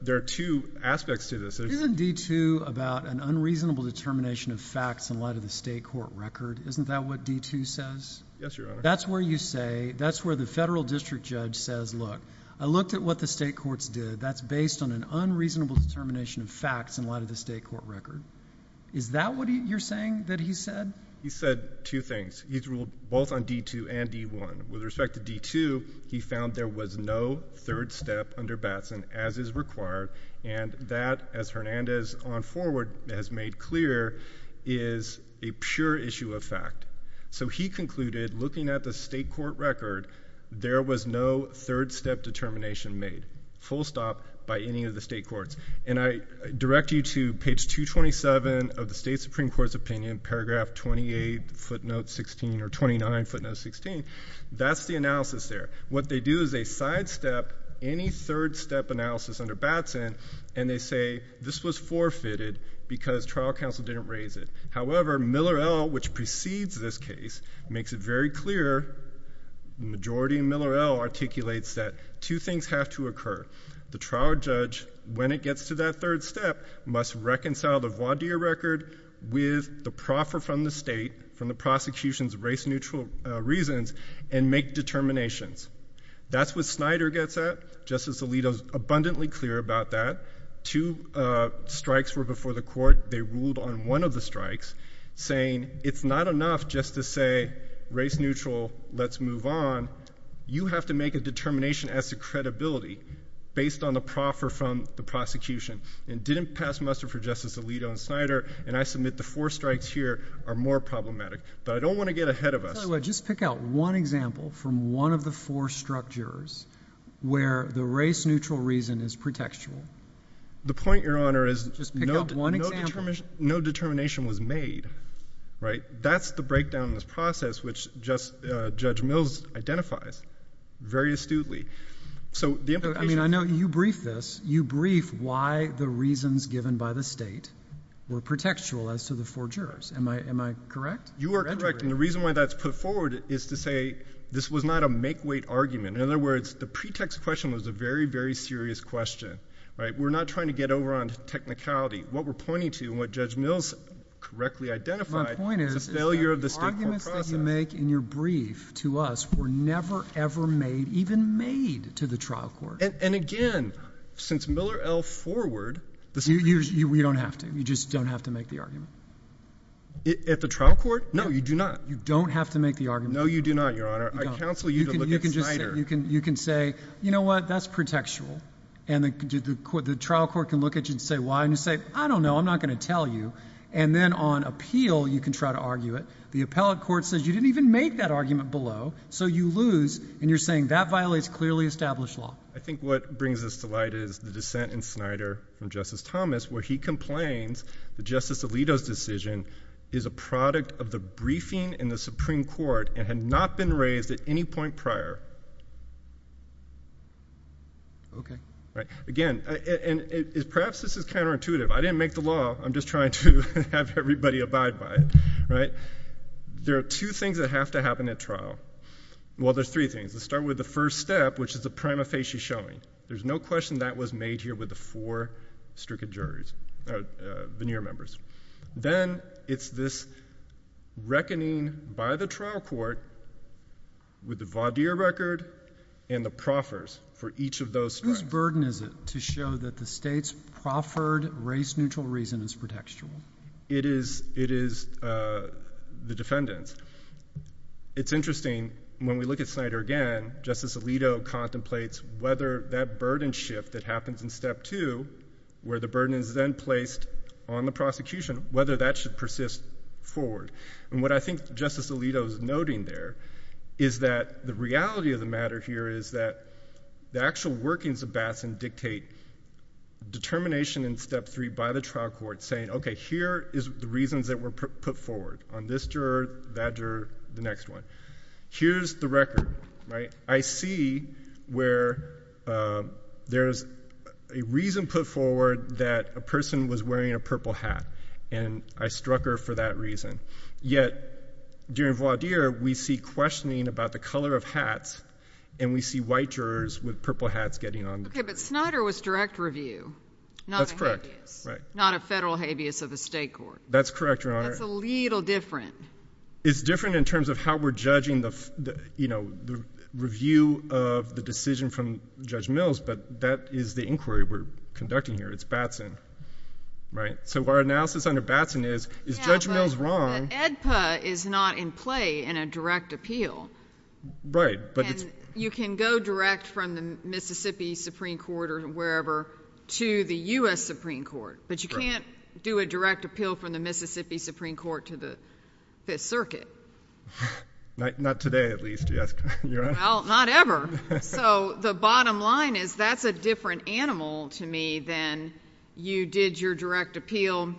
There are two aspects to this. Isn't D-2 about an unreasonable determination of facts in light of the state court record? Isn't that what D-2 says? Yes, Your Honor. That's where the federal district judge says look, I looked at what the state courts did. That's based on an unreasonable determination of facts in light of the state court record. Is that what you're saying that he said? He said two things. He's ruled both on D-2 and D-1. With respect to D-2 he found there was no third step under Batson as is required and that as Hernandez on forward has made clear is a pure issue of fact. So he concluded looking at the state court record there was no third step determination made. Full stop by any of the state courts. And I direct you to page 227 of the state supreme court's opinion paragraph 28 footnote 16 or 29 footnote 16. That's the analysis there. What they do is they sidestep any third step analysis under Batson and they say this was forfeited because trial counsel didn't raise it. However, Miller-El which precedes this case makes it very clear the majority in Miller-El articulates that two things have to occur. The trial judge when it gets to that third step must reconcile the voir dire record with the proffer from the state from the prosecution's race neutral reasons and make determinations. That's what Snyder gets at. Justice Alito is abundantly clear about that. Two strikes were before the court. They ruled on one of the strikes saying it's not enough just to say race neutral, let's move on. You have to make a determination as to credibility based on the proffer from the prosecution and didn't pass muster for Justice Alito and Snyder and I submit the four strikes here are more problematic. I don't want to get ahead of us. Just pick out one example from one of the four structures where the race neutral reason is pretextual. The point, Your Honor, is no determination was made. That's the breakdown in this process which Judge Mills identifies very astutely. I know you briefed this. You briefed why the reasons given by the state were pretextual as to the four jurors. Am I correct? You are correct and the reason why that's put forward is to say this was not a make-weight argument. In other words, the pretext question was a very, very serious question. We're not trying to get over on technicality. What we're pointing to and what Judge Mills correctly identified is a failure of the state court process. The arguments that you make in your brief to us were never ever made, even made to the trial court. And again, since Miller L. Forward You don't have to. You just don't have to make the argument. At the trial court? No, you do not. You don't have to make the argument. No, you do not, Your Honor. I counsel you to look at Snyder. You can say, you know what? That's pretextual. And the trial court can look at you and say, why? And you say, I don't know. I'm not going to tell you. And then on appeal, you can try to argue it. The appellate court says you didn't even make that argument below, so you lose and you're saying that violates clearly the established law. I think what brings us to light is the dissent in Snyder from Justice Thomas, where he complains that Justice Alito's decision is a product of the briefing in the Supreme Court and had not been raised at any point prior. Okay. Right. Again, and perhaps this is counterintuitive. I didn't make the law. I'm just trying to have everybody abide by it. There are two things that have to happen at trial. Well, there's three things. Let's start with the first step, which is the prima facie showing. There's no question that was made here with the four stricken juries, or veneer members. Then, it's this reckoning by the trial court with the voir dire record and the proffers for each of those. Whose burden is it to show that the state's proffered, race neutral reason is pretextual? It is the defendant's. It's interesting, when we look at Snyder again, Justice Alito contemplates whether that burden shift that happens in step two, where the burden is then placed on the prosecution, whether that should persist forward. And what I think Justice Alito's noting there is that the reality of the matter here is that the actual workings of Basson dictate determination in step three by the trial court saying, okay, here is the reasons that were put forward on this juror, that juror, the next one. Here's the record. I see where there is a reason put forward that a person was wearing a purple hat, and I struck her for that reason. Yet, during voir dire, we see questioning about the color of hats and we see white jurors with purple hats getting on the jury. Okay, but Snyder was direct review. That's correct. Not a federal habeas of the state court. That's correct, Your Honor. That's a little different. It's different in terms of how we're judging the, you know, review of the decision from Judge Mills, but that is the inquiry we're conducting here. It's Batson, right? So our analysis under Batson is, is Judge Mills wrong? Yeah, but the AEDPA is not in play in a direct appeal. Right, but it's... And you can go direct from the Mississippi Supreme Court or wherever to the U.S. Supreme Court, but you can't do a direct appeal from the Mississippi Supreme Court to the Fifth Circuit. Not today, at least, Your Honor. Well, not ever. So the bottom line is that's a different animal to me than you did your direct appeal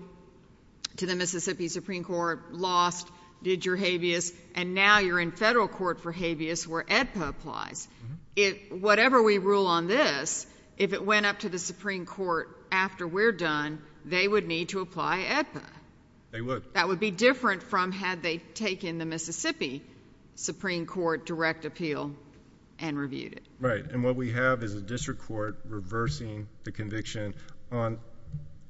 to the Mississippi Supreme Court, lost, did your habeas, and now you're in federal court for habeas where AEDPA applies. Whatever we rule on this, if it went up to the Supreme Court after we're done, they would need to apply AEDPA. They would. That would be different from had they taken the Mississippi Supreme Court direct appeal and reviewed it. Right, and what we have is a district court reversing the conviction on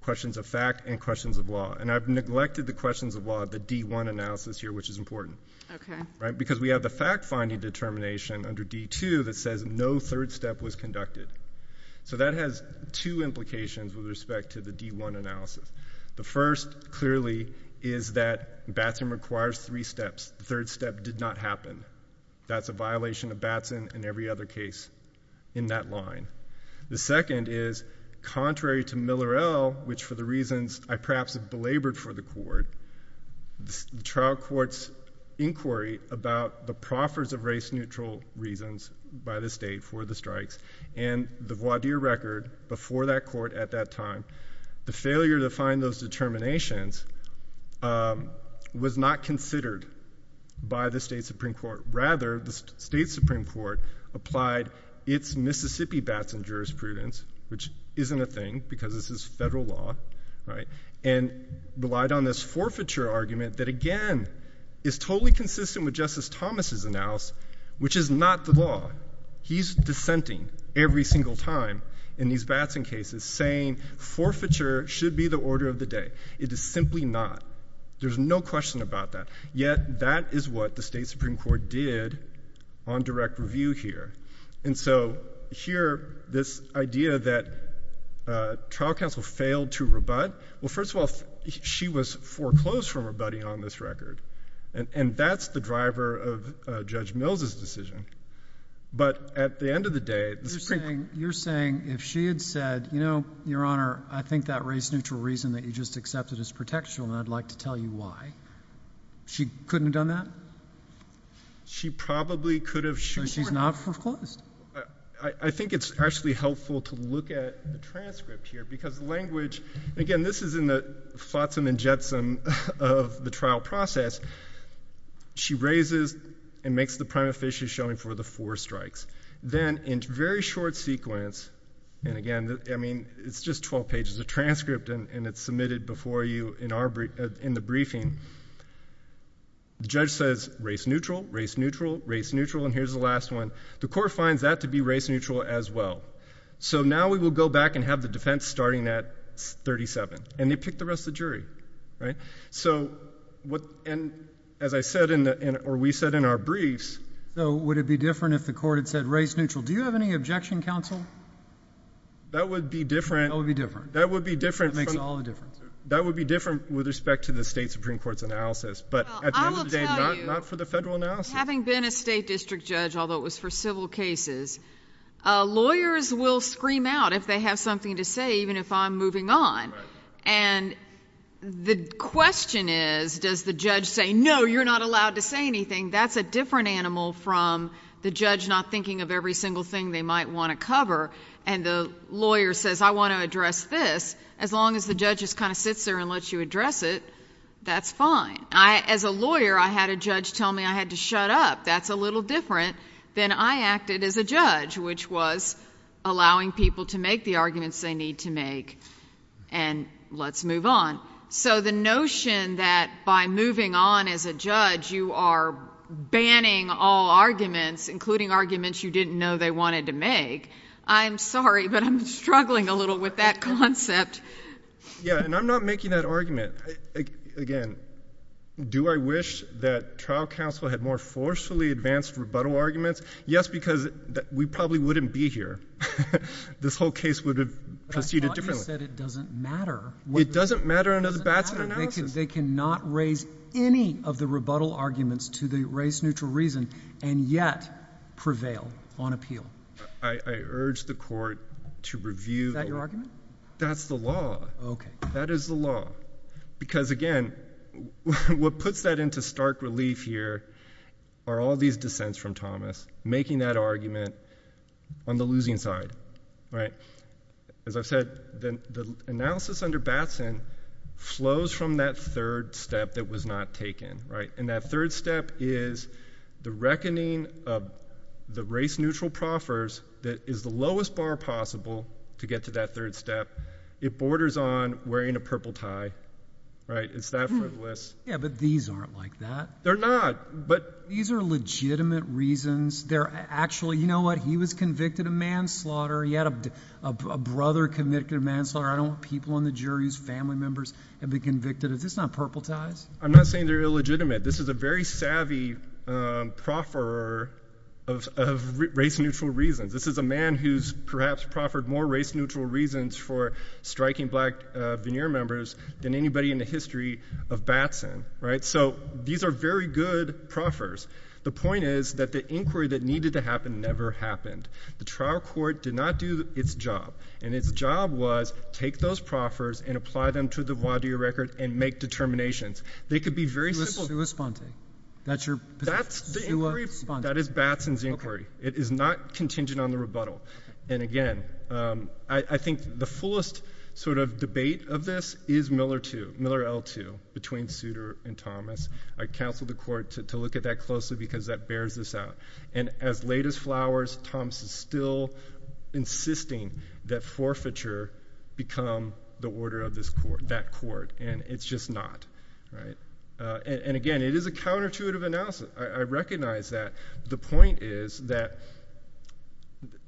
questions of fact and questions of law, and I've neglected the questions of law, the D1 analysis here, which is important. Okay. Right, because we have the fact finding determination under D2 that says no third step was conducted. So that has two implications with respect to the D1 analysis. The first, clearly, is that Batson requires three steps. The third step did not happen. That's a violation of Batson and every other case in that line. The second is, contrary to Miller L., which for the reasons I perhaps have belabored for the court, the trial court's inquiry about the proffers of race-neutral reasons by the state for the strikes and the voir dire record before that court at that time, the failure to find those determinations was not considered by the state Supreme Court. Rather, the state Supreme Court applied its Mississippi Batson jurisprudence, which isn't a thing, because this is federal law, and relied on this forfeiture argument that, again, is totally consistent with Justice Thomas' analysis, which is not the law. He's dissenting every single time in these Batson cases, saying forfeiture should be the order of the day. It is simply not. There's no question about that. Yet, that is what the state Supreme Court did on direct review here. Here, this idea that trial counsel failed to rebut, first of all, she was foreclosed from rebutting on this record. And that's the driver of Judge Mills' decision. But, at the end of the day, the Supreme Court... You're saying, if she had said, you know, Your Honor, I think that race-neutral reason that you just accepted is pretextual, and I'd like to tell you why. She couldn't have done that? She probably could have. So she's not foreclosed? I think it's actually helpful to look at the transcript here, because language... Again, this is in the flotsam and jetsam of the trial process. She raises and makes the prima facie showing for the four strikes. Then, in very short sequence, and again, I mean, it's just 12 pages of transcript, and it's submitted before you in the briefing. The judge says, race-neutral, race-neutral, race-neutral, and here's the last one. The court finds that to be race-neutral as well. So now we will go back and have the defense starting at 37. And they pick the rest of the jury. So, as I said, or we said in our briefs... So would it be different if the court had said race-neutral? Do you have any objection, counsel? That would be different. That would be different. That makes all the difference. That would be different with respect to the state Supreme Court's analysis, but at the end of the day, not for the federal analysis. I will tell you, having been a state district judge, although it was for civil cases, lawyers will scream out if they have something to say, even if I'm moving on. And the question is, does the judge say, no, you're not allowed to say anything? That's a different animal from the judge not thinking of every single thing they might want to cover, and the lawyer says, I want to address this. As long as the judge just kind of sits there and lets you address it, that's fine. As a lawyer, I had a judge tell me I had to shut up. That's a little different than I acted as a judge, which was allowing people to make the arguments they need to make and let's move on. So the notion that by moving on as a judge you are banning all arguments, including arguments you didn't know they wanted to make, I'm sorry, but I'm struggling a little with that concept. Yeah, and I'm not making that argument. Again, do I wish that trial counsel had more forcefully advanced rebuttal arguments? Yes, because we probably wouldn't be here. This whole case would have proceeded differently. But I thought you said it doesn't matter. It doesn't matter under the Batson analysis. They cannot raise any of the rebuttal arguments to the race-neutral reason and yet prevail on appeal. I urge the court to review Is that your argument? That's the law. That is the law. Because again, what puts that into stark relief here are all these dissents from Thomas making that argument on the losing side. As I've said, the analysis under Batson flows from that third step that was not taken. And that third step is the reckoning of the race-neutral proffers that is the lowest bar possible to get to that third step. It borders on wearing a purple tie. It's that frivolous. Yeah, but these aren't like that. They're not. These are legitimate reasons. They're actually, you know what? He was convicted of manslaughter. He had a brother convicted of manslaughter. I don't want people on the jury whose family members have been convicted. Is this not purple ties? I'm not saying they're illegitimate. This is a very savvy profferer of race-neutral reasons. This is a man who's perhaps proffered more race-neutral reasons for striking black veneer members than anybody in the history of Batson. So these are very good proffers. The point is that the inquiry that needed to happen never happened. The trial court did not do its job. And its job was take those proffers and apply them to the voir dire record and make determinations. They could be very simple. That's your... That is Batson's inquiry. It is not contingent on the rebuttal. And again, I think the fullest debate of this is Miller 2, Miller L2, between Souter and Thomas. I counsel the court to look at that closely because that bears this out. And as late as flowers, Thomas is still insisting that forfeiture become the order of that court. And it's just not. And again, it is a counterintuitive analysis. I recognize that. The point is that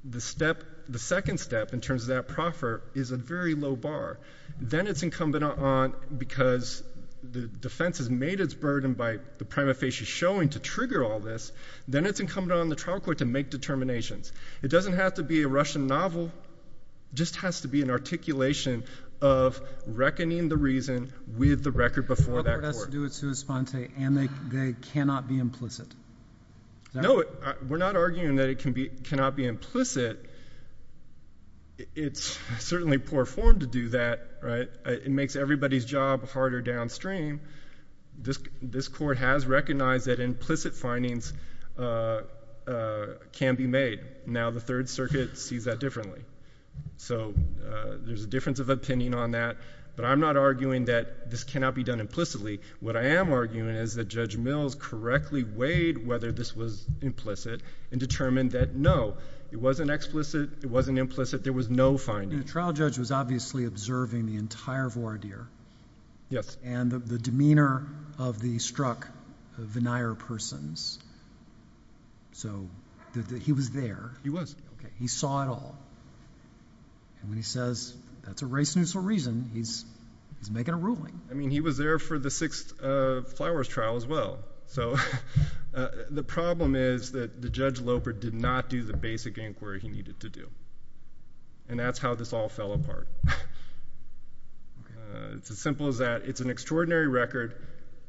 the second step in terms of that proffer is a very low bar. Then it's incumbent on, because the defense has made its burden by the prima facie showing to trigger all this, then it's incumbent on the trial court to make determinations. It doesn't have to be a Russian novel. It just has to be an articulation of reckoning the reason with the record before that court. The trial court has to do it sua sponte and they cannot be implicit. No. We're not arguing that it cannot be implicit. It's certainly poor form to do that. It makes everybody's job harder downstream. This court has recognized that implicit findings can be made. Now the Third Circuit sees that differently. So there's a difference of opinion on that. But I'm not arguing that this cannot be done implicitly. What I am arguing is that Judge Mills correctly weighed whether this was implicit and determined that no. It wasn't explicit. It wasn't implicit. There was no finding. The trial judge was obviously observing the entire voir dire. And the demeanor of the struck veneer persons. he was there. He saw it all. And when he says that's a race-neutral reason, he's making a ruling. I mean he was there for the Sixth Flowers trial as well. So the problem is that Judge Loper did not do the basic inquiry he needed to do. And that's how this all fell apart. It's as simple as that. It's an extraordinary record.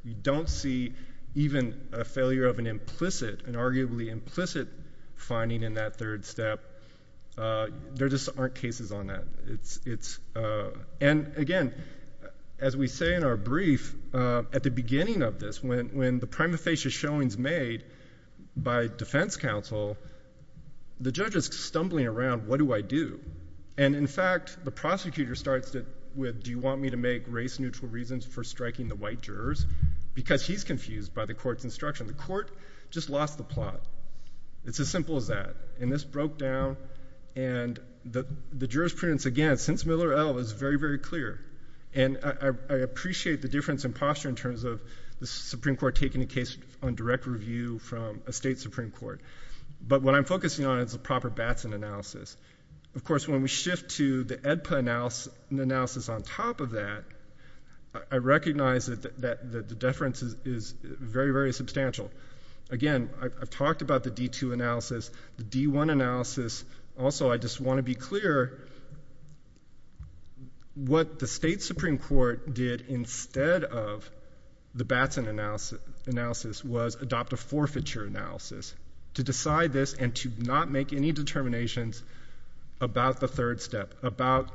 You don't see even a failure of an implicit, an arguably implicit finding in that third step. There just aren't cases on that. And again, as we say in our brief, at the beginning of this, when the most facious showing is made by defense counsel, the judge is stumbling around. What do I do? And in fact, the prosecutor starts it with, do you want me to make race-neutral reasons for striking the white jurors? Because he's confused by the court's instruction. The court just lost the plot. It's as simple as that. And this broke down and the jurors' prudence again, since Miller L was very, very clear. And I appreciate the difference in posture in terms of the Supreme Court taking a case on direct review from a state Supreme Court. But what I'm focusing on is a proper Batson analysis. Of course, when we shift to the Edpa analysis on top of that, I recognize that the difference is very, very substantial. Again, I've talked about the D2 analysis, the D1 analysis. Also, I just want to be clear what the state Supreme Court did instead of the Batson analysis was adopt a forfeiture analysis to decide this and to not make any determinations about the third step, about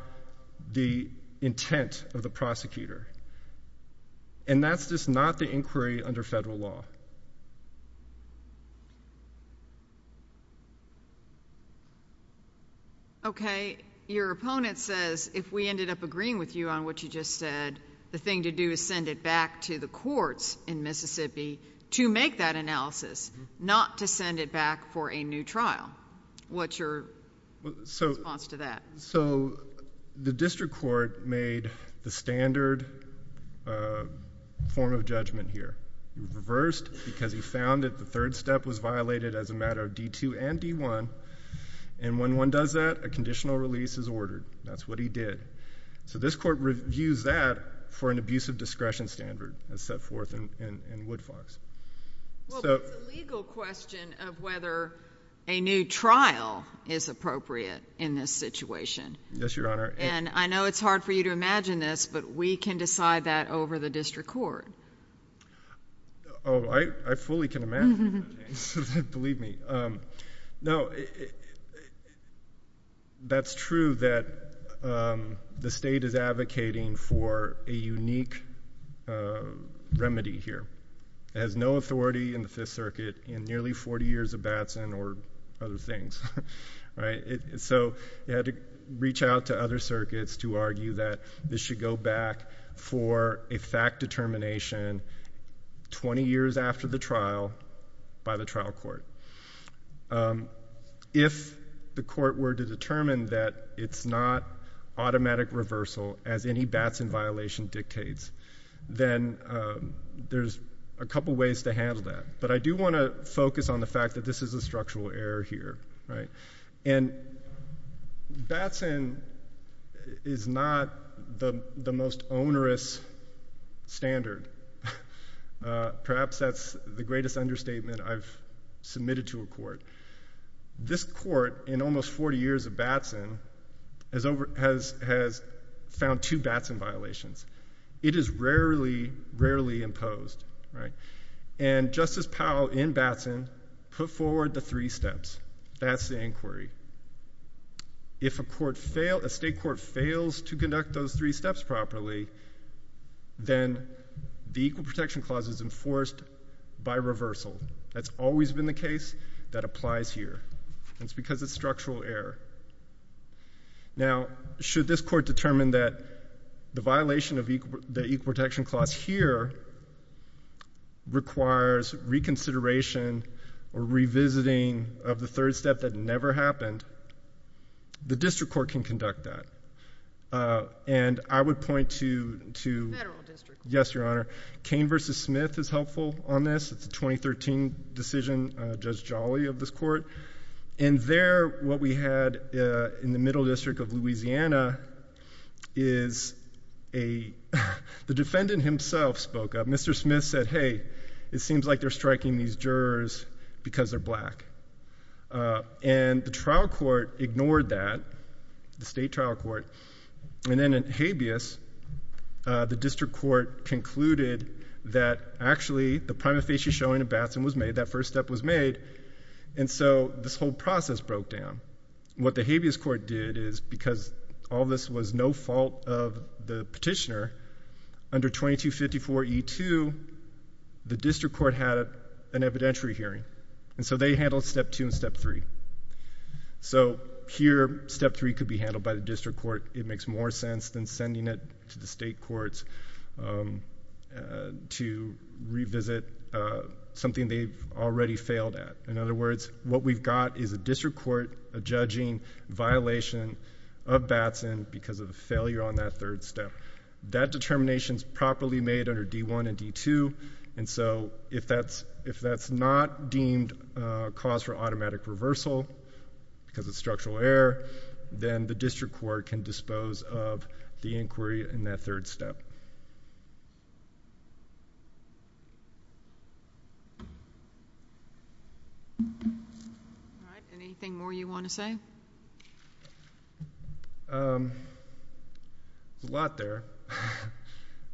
the intent of the prosecutor. And that's just not the inquiry under federal law. Okay. Your opponent says, if we ended up with a new trial, the thing to do is send it back to the courts in Mississippi to make that analysis, not to send it back for a new trial. What's your response to that? the district court made the standard form of judgment here. It reversed because he found that the third step was violated as a matter of D2 and D1. And when one does that, a conditional release is ordered. That's what he did. So this court reviews that for an abusive discretion standard as set forth in Woodfox. Well, but it's a legal question of whether a new trial is appropriate in this situation. And I know it's hard for you to imagine this, but we can decide that over the district court. Oh, I fully can imagine that. Believe me. No, that's true that the state is advocating for a unique remedy here. It has no authority in the Fifth Circuit in nearly 40 years of Batson or other things. So you had to reach out to other circuits to argue that this should go back for a fact determination 20 years after the trial by the trial court. If the court were to determine that it's not automatic reversal as any Batson violation dictates, then there's a couple ways to handle that. But I do want to focus on the fact that this is a structural error here. And Batson is not the most onerous standard. Perhaps that's the greatest understatement I've submitted to a court. This court in almost 40 years of Batson has found two Batson violations. It is rarely imposed. And Justice Powell in Batson put forward the three steps. That's the inquiry. If a state court fails to conduct those three steps properly, then the Equal Protection Clause is enforced by reversal. That's always been the case that applies here. And it's because it's structural error. Now, should this court determine that the violation of the Equal Protection Clause here requires reconsideration or revisiting of the third step that never happened, the district court can conduct that. And I would point to... Mr. Smith is helpful on this. It's a 2013 decision, Judge Jolly of this court. And there, what we had in the Middle District of Louisiana is a... The defendant himself spoke up. Mr. Smith said, hey, it seems like they're striking these jurors because they're black. And the trial court ignored that, the state trial court. And then in Habeas, the district court concluded that actually the prima facie showing of Batson was made. That first step was made. And so this whole process broke down. What the Habeas court did is because all this was no fault of the petitioner, under 2254E2, the district court had an evidentiary hearing. And so they handled Step 2 and Step 3. So here, Step 3 could be handled by the district court. It makes more sense than sending it to the state courts to revisit something they've already failed at. In other words, what we've got is a district court judging violation of Batson because of the failure on that third step. That determination is properly made under D1 and D2. And so, if that's not deemed a cause for automatic reversal because of structural error, then the district court can dispose of the inquiry in that third step. Alright, anything more you want to say? There's a lot there.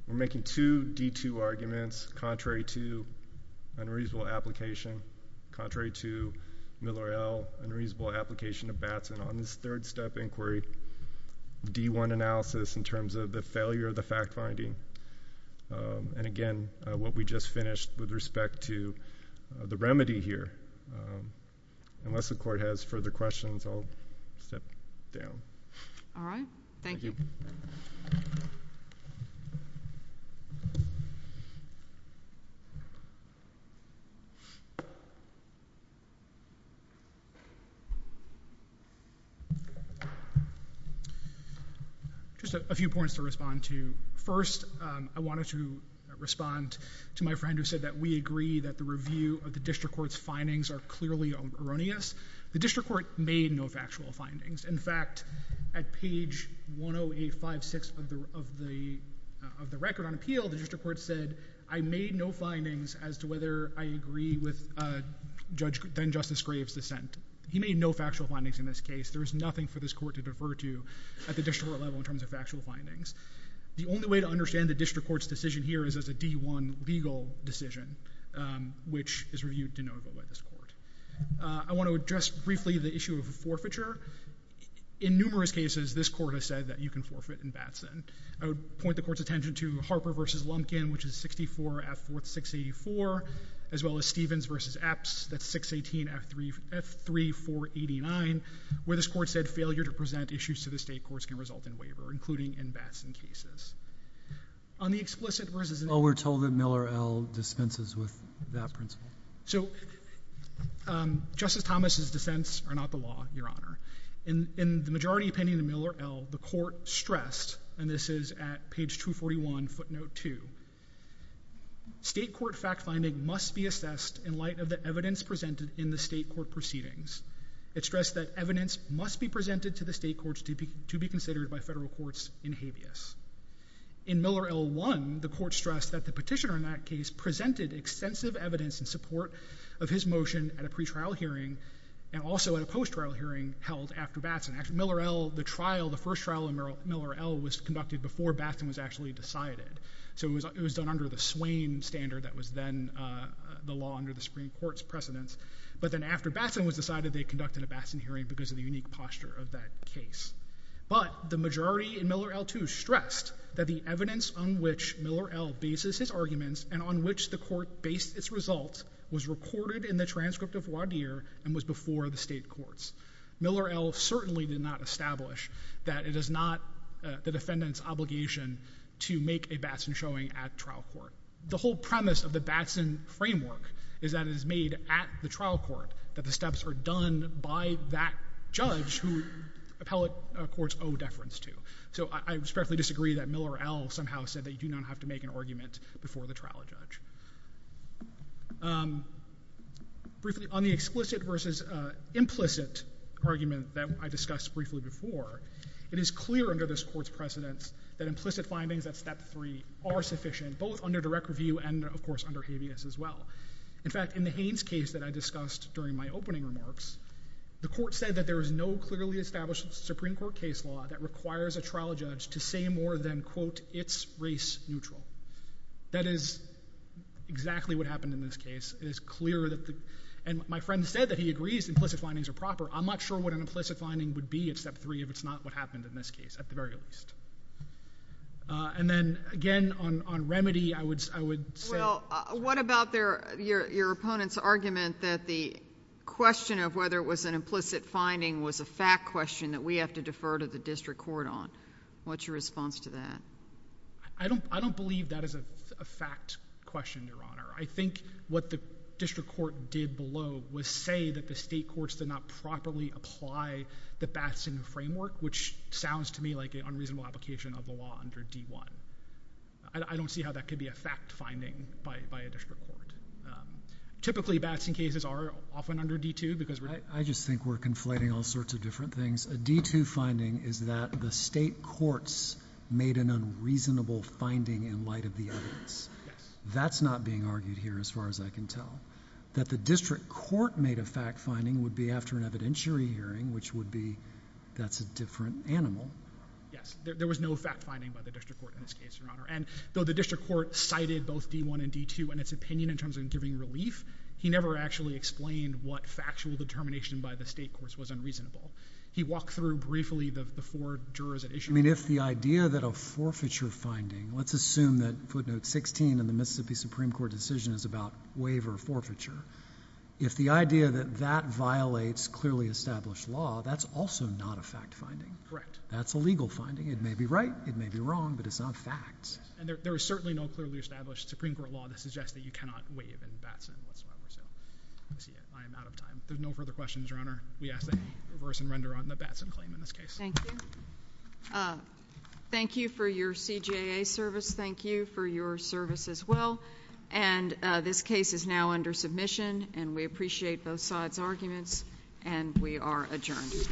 We're making two D2 arguments contrary to unreasonable application, contrary to Miller et al. unreasonable application of Batson on this third step inquiry. D1 analysis in terms of the failure of the fact-finding. And again, what we just finished with respect to the remedy here. Unless the court has further questions, I'll step down. Alright, thank you. Just a few points to respond to. First, I wanted to respond to my friend who said that we agree that the review of the district court's findings are clearly erroneous. The district court made no factual findings. In fact, at page 10856 of the record on appeal, the district court said, I made no findings as to whether I agree with then-Justice Graves' dissent. He made no factual findings in this case. There is nothing for this court to defer to at the district court level in terms of factual findings. The only way to understand the district court's decision here is as a D1 legal decision, which is reviewed denotable by this court. I want to address briefly the issue of forfeiture. In numerous cases, this court has said that you can forfeit in Batson. I would point the court's attention to Harper v. Lumpkin, which is 64 F. 484, as well as Stevens v. Epps, that's 618 F. 3489, where this court said failure to present issues to the state courts can result in waiver, including in Batson cases. On the explicit versus... Oh, we're told that Miller L. dispenses with that principle. So, Justice Thomas' dissents are not the law, Your Honor. In the majority pending the Miller L., the court stressed, and this is at page 241, footnote 2, state court fact-finding must be assessed in light of the evidence presented in the state court proceedings. It stressed that evidence must be presented to the state courts to be considered by federal courts in habeas. In Miller L. 1, the court stressed that the petitioner in that case presented extensive evidence in support of his motion at a pre-trial hearing, and also at a post-trial hearing held after Batson. Miller L., the trial, the first trial in Miller L. was conducted before Batson was actually decided. So it was done under the Swain standard that was then the law under the Supreme Court's precedence. But then after Batson was decided, they conducted a Batson hearing because of the unique posture of that case. But the majority in Miller L. 2 stressed that the evidence on which Miller L. bases his arguments and on which the court based its results was recorded in the transcript of Wadir and was before the state courts. Miller L. certainly did not establish that it is not the defendant's obligation to make a Batson showing at trial court. The whole premise of the Batson framework is that it is made at the trial court that the steps are done by that judge who appellate courts owe deference to. So I respectfully disagree that Miller L. somehow said that you do not have to make an argument before the trial judge. Briefly, on the explicit versus implicit argument that I discussed briefly before, it is clear under this court's precedence that implicit findings at Step 3 are sufficient, both under direct review and, of course, under habeas as well. In fact, in the Haines case that I discussed during my opening remarks, the court said that there is no clearly established Supreme Court case law that requires a trial judge to say more than quote, it's race neutral. That is exactly what happened in this case. It is clear that the... And my friend said that he agrees implicit findings are proper. I'm not sure what an implicit finding would be at Step 3 if it's not what happened in this case, at the very least. And then again, on remedy, I would say... Well, what about your opponent's argument that the question of whether it was an implicit finding was a fact question that we have to defer to the district court on? What's your response to that? I don't believe that is a fact question, Your Honor. I think what the district court did below was say that the state courts did not properly apply the Batson framework, which sounds to me like an unreasonable application of the law under D-1. I don't see how that could be a fact finding by a district court. Typically, Batson cases are often under D-2 because... I just think we're conflating all sorts of different things. A D-2 finding is that the state courts made an unreasonable finding in light of the evidence. That's not being argued here as far as I can tell. That the district court made a fact finding would be after an evidentiary hearing, which would be that's a different animal. Yes. There was no fact finding by the district court in this case, Your Honor. Though the district court cited both D-1 and D-2 in its opinion in terms of giving relief, he never actually explained what factual determination by the state courts was unreasonable. He walked through briefly the four jurors that issued... If the idea that a forfeiture finding... Let's assume that footnote 16 in the Mississippi Supreme Court decision is about waiver forfeiture. If the idea that that violates clearly established law, that's also not a fact finding. Correct. That's a legal finding. It may be right, it may be wrong, but it's not fact. And there is certainly no clearly established Supreme Court law that suggests that you cannot waive in Batson whatsoever. I am out of time. There's no further questions, Your Honor. We ask that you reverse and render on the Batson claim in this case. Thank you. Thank you for your CJA service. Thank you for your service as well. And this case is now under submission, and we appreciate both sides' arguments, and we are adjourned.